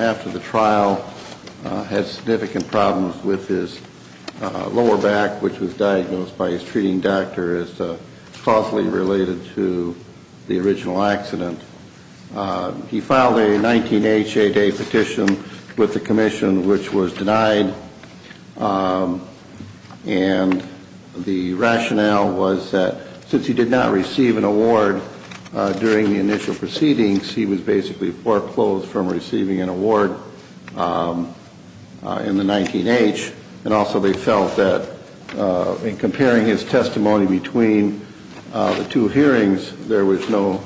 After the trial, he had significant problems with his lower back, which was diagnosed by his treating doctor as causally related to the original accident. He filed a 19-H 8A petition with the Commission, which was denied. And the rationale was that since he did not receive an award during the initial proceedings, he was basically foreclosed from receiving an award in the 19-H. And also they felt that in comparing his testimony between the two hearings, there was no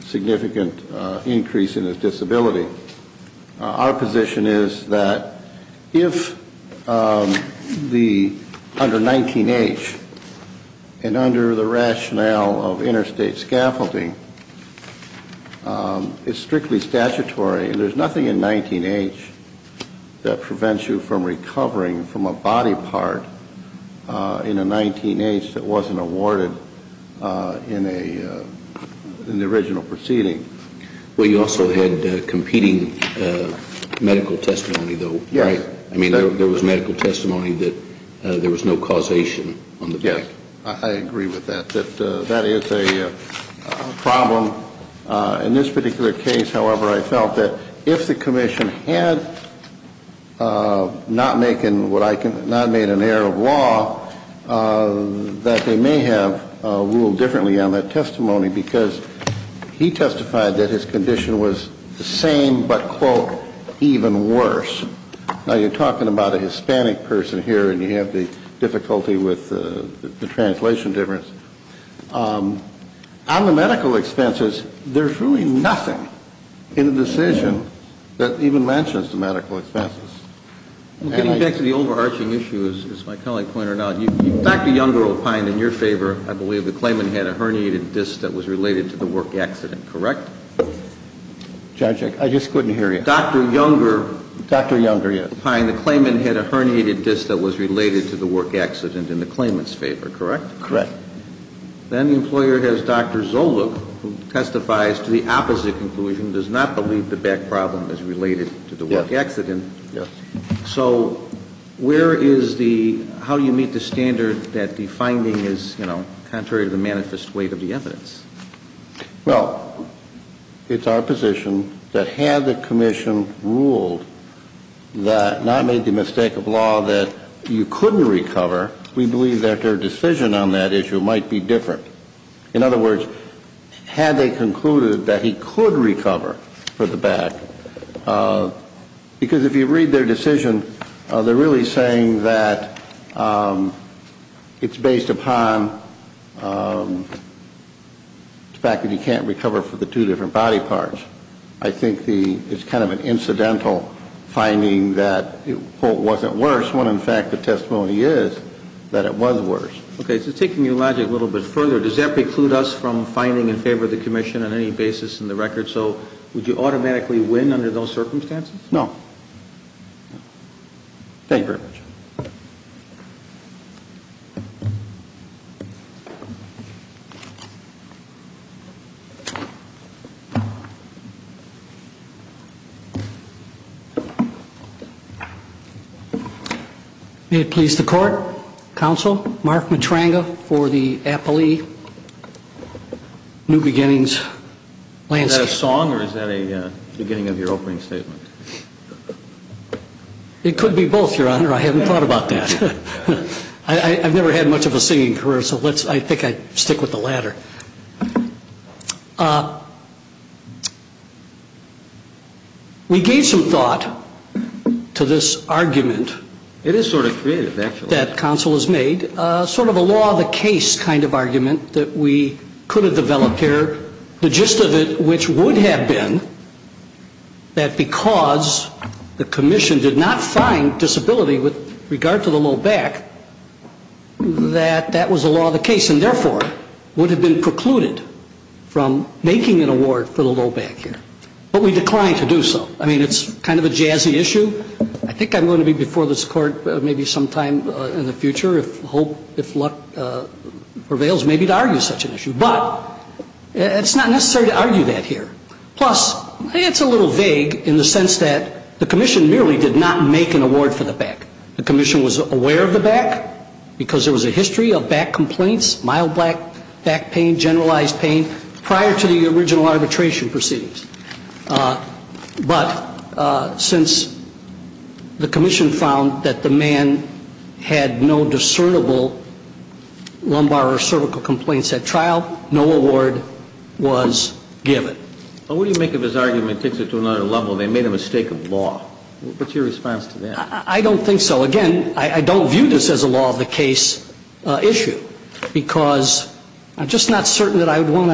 significant increase in his disability. Our position is that if under 19-H and under the rationale of interstate scaffolding, it's strictly statutory. There's nothing in 19-H that prevents you from recovering from a body part in a 19-H that wasn't awarded in the original proceeding. Well, you also had competing medical testimony, though, right? Yes. I mean, there was medical testimony that there was no causation on the back. Yes, I agree with that, that that is a problem. In this particular case, however, I felt that if the Commission had not made an error of law, that they may have ruled differently on that testimony, because he testified that his condition was the same but, quote, even worse. Now, you're talking about a Hispanic person here, and you have the difficulty with the translation difference. On the medical expenses, there's really nothing in the decision that even mentions the medical expenses. Getting back to the overarching issue, as my colleague pointed out, Dr. Younger opined in your favor, I believe the claimant had a herniated disc that was related to the work accident, correct? Judge, I just couldn't hear you. Dr. Younger opined the claimant had a herniated disc that was related to the work accident in the claimant's favor, correct? Correct. Then the employer has Dr. Zoluch, who testifies to the opposite conclusion, does not believe the back problem is related to the work accident. Yes. So where is the – how do you meet the standard that the finding is, you know, contrary to the manifest weight of the evidence? Well, it's our position that had the Commission ruled that – not made the mistake of law that you couldn't recover, we believe that their decision on that issue might be different. In other words, had they concluded that he could recover for the back, because if you read their decision, they're really saying that it's based upon the fact that he can't recover for the two different body parts. I think the – it's kind of an incidental finding that it, quote, wasn't worse, when in fact the testimony is that it was worse. Okay. So taking your logic a little bit further, does that preclude us from finding in favor of the Commission on any basis in the record? So would you automatically win under those circumstances? No. Thank you very much. May it please the Court. Counsel, Mark Matranga for the Appley New Beginnings Landscape. Is that a song or is that a beginning of your opening statement? It could be both, Your Honor. I haven't thought about that. I've never had much of a singing career, so let's – I think I'd stick with the latter. We gave some thought to this argument. It is sort of creative, actually. That counsel has made, sort of a law of the case kind of argument that we could have developed here. The gist of it, which would have been that because the Commission did not find disability with regard to the low back, that that was a law of the case and, therefore, would have been precluded from making an award for the low back here. But we declined to do so. I mean, it's kind of a jazzy issue. I think I'm going to be before this Court maybe sometime in the future if luck prevails maybe to argue such an issue. But it's not necessary to argue that here. Plus, it's a little vague in the sense that the Commission merely did not make an award for the back. The Commission was aware of the back because there was a history of back complaints, mild back pain, generalized pain, prior to the original arbitration proceedings. But since the Commission found that the man had no discernible lumbar or cervical complaints at trial, no award was given. But what do you make of his argument that takes it to another level and they made a mistake of the law? What's your response to that? I don't think so. Again, I don't view this as a law of the case issue because I'm just not certain that I would want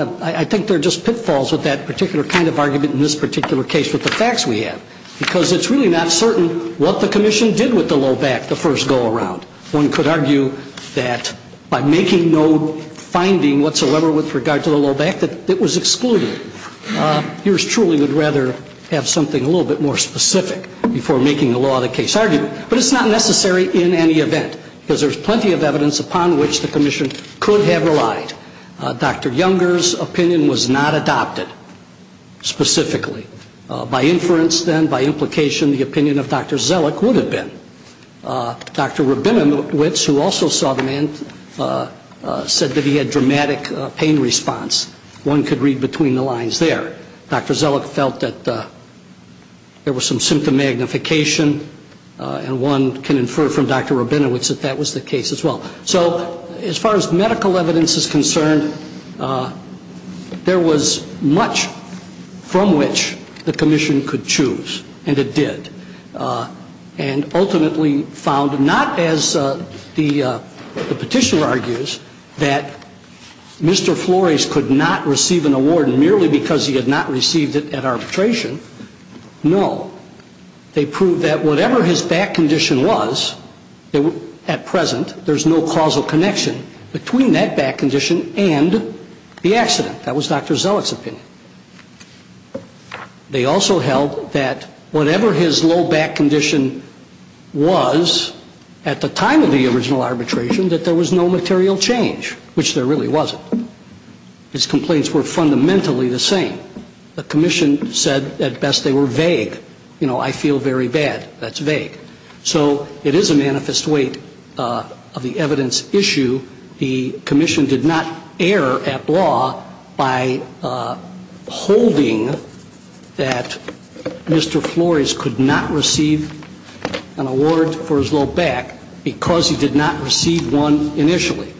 to – I think there are just pitfalls with that particular kind of argument in this particular case with the facts we have because it's really not certain what the Commission did with the low back the first go around. One could argue that by making no finding whatsoever with regard to the low back that it was excluded. Yours truly would rather have something a little bit more specific before making the law of the case argument. But it's not necessary in any event because there's plenty of evidence upon which the Commission could have relied. Dr. Younger's opinion was not adopted specifically. By inference then, by implication, the opinion of Dr. Zellick would have been. Dr. Rabinowitz, who also saw the man, said that he had dramatic pain response. One could read between the lines there. Dr. Zellick felt that there was some symptom magnification. And one can infer from Dr. Rabinowitz that that was the case as well. So as far as medical evidence is concerned, there was much from which the Commission could choose, and it did. And ultimately found, not as the petitioner argues, that Mr. Flores could not receive an award merely because he had not received it at arbitration. No. They proved that whatever his back condition was at present, there's no causal connection between that back condition and the accident. That was Dr. Zellick's opinion. They also held that whatever his low back condition was at the time of the original arbitration, that there was no material change, which there really wasn't. His complaints were fundamentally the same. The Commission said at best they were vague. You know, I feel very bad. That's vague. So it is a manifest weight of the evidence issue. The Commission did not err at law by holding that Mr. Flores could not receive an award for his low back because he did not receive one initially.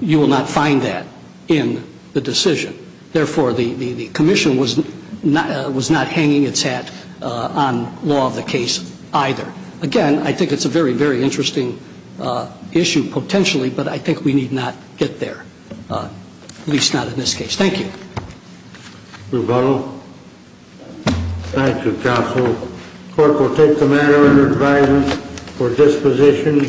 You will not find that in the decision. Therefore, the Commission was not hanging its hat on law of the case either. Again, I think it's a very, very interesting issue potentially, but I think we need not get there, at least not in this case. Thank you. Thank you, Counsel. The Court will take the matter under advisement for disposition.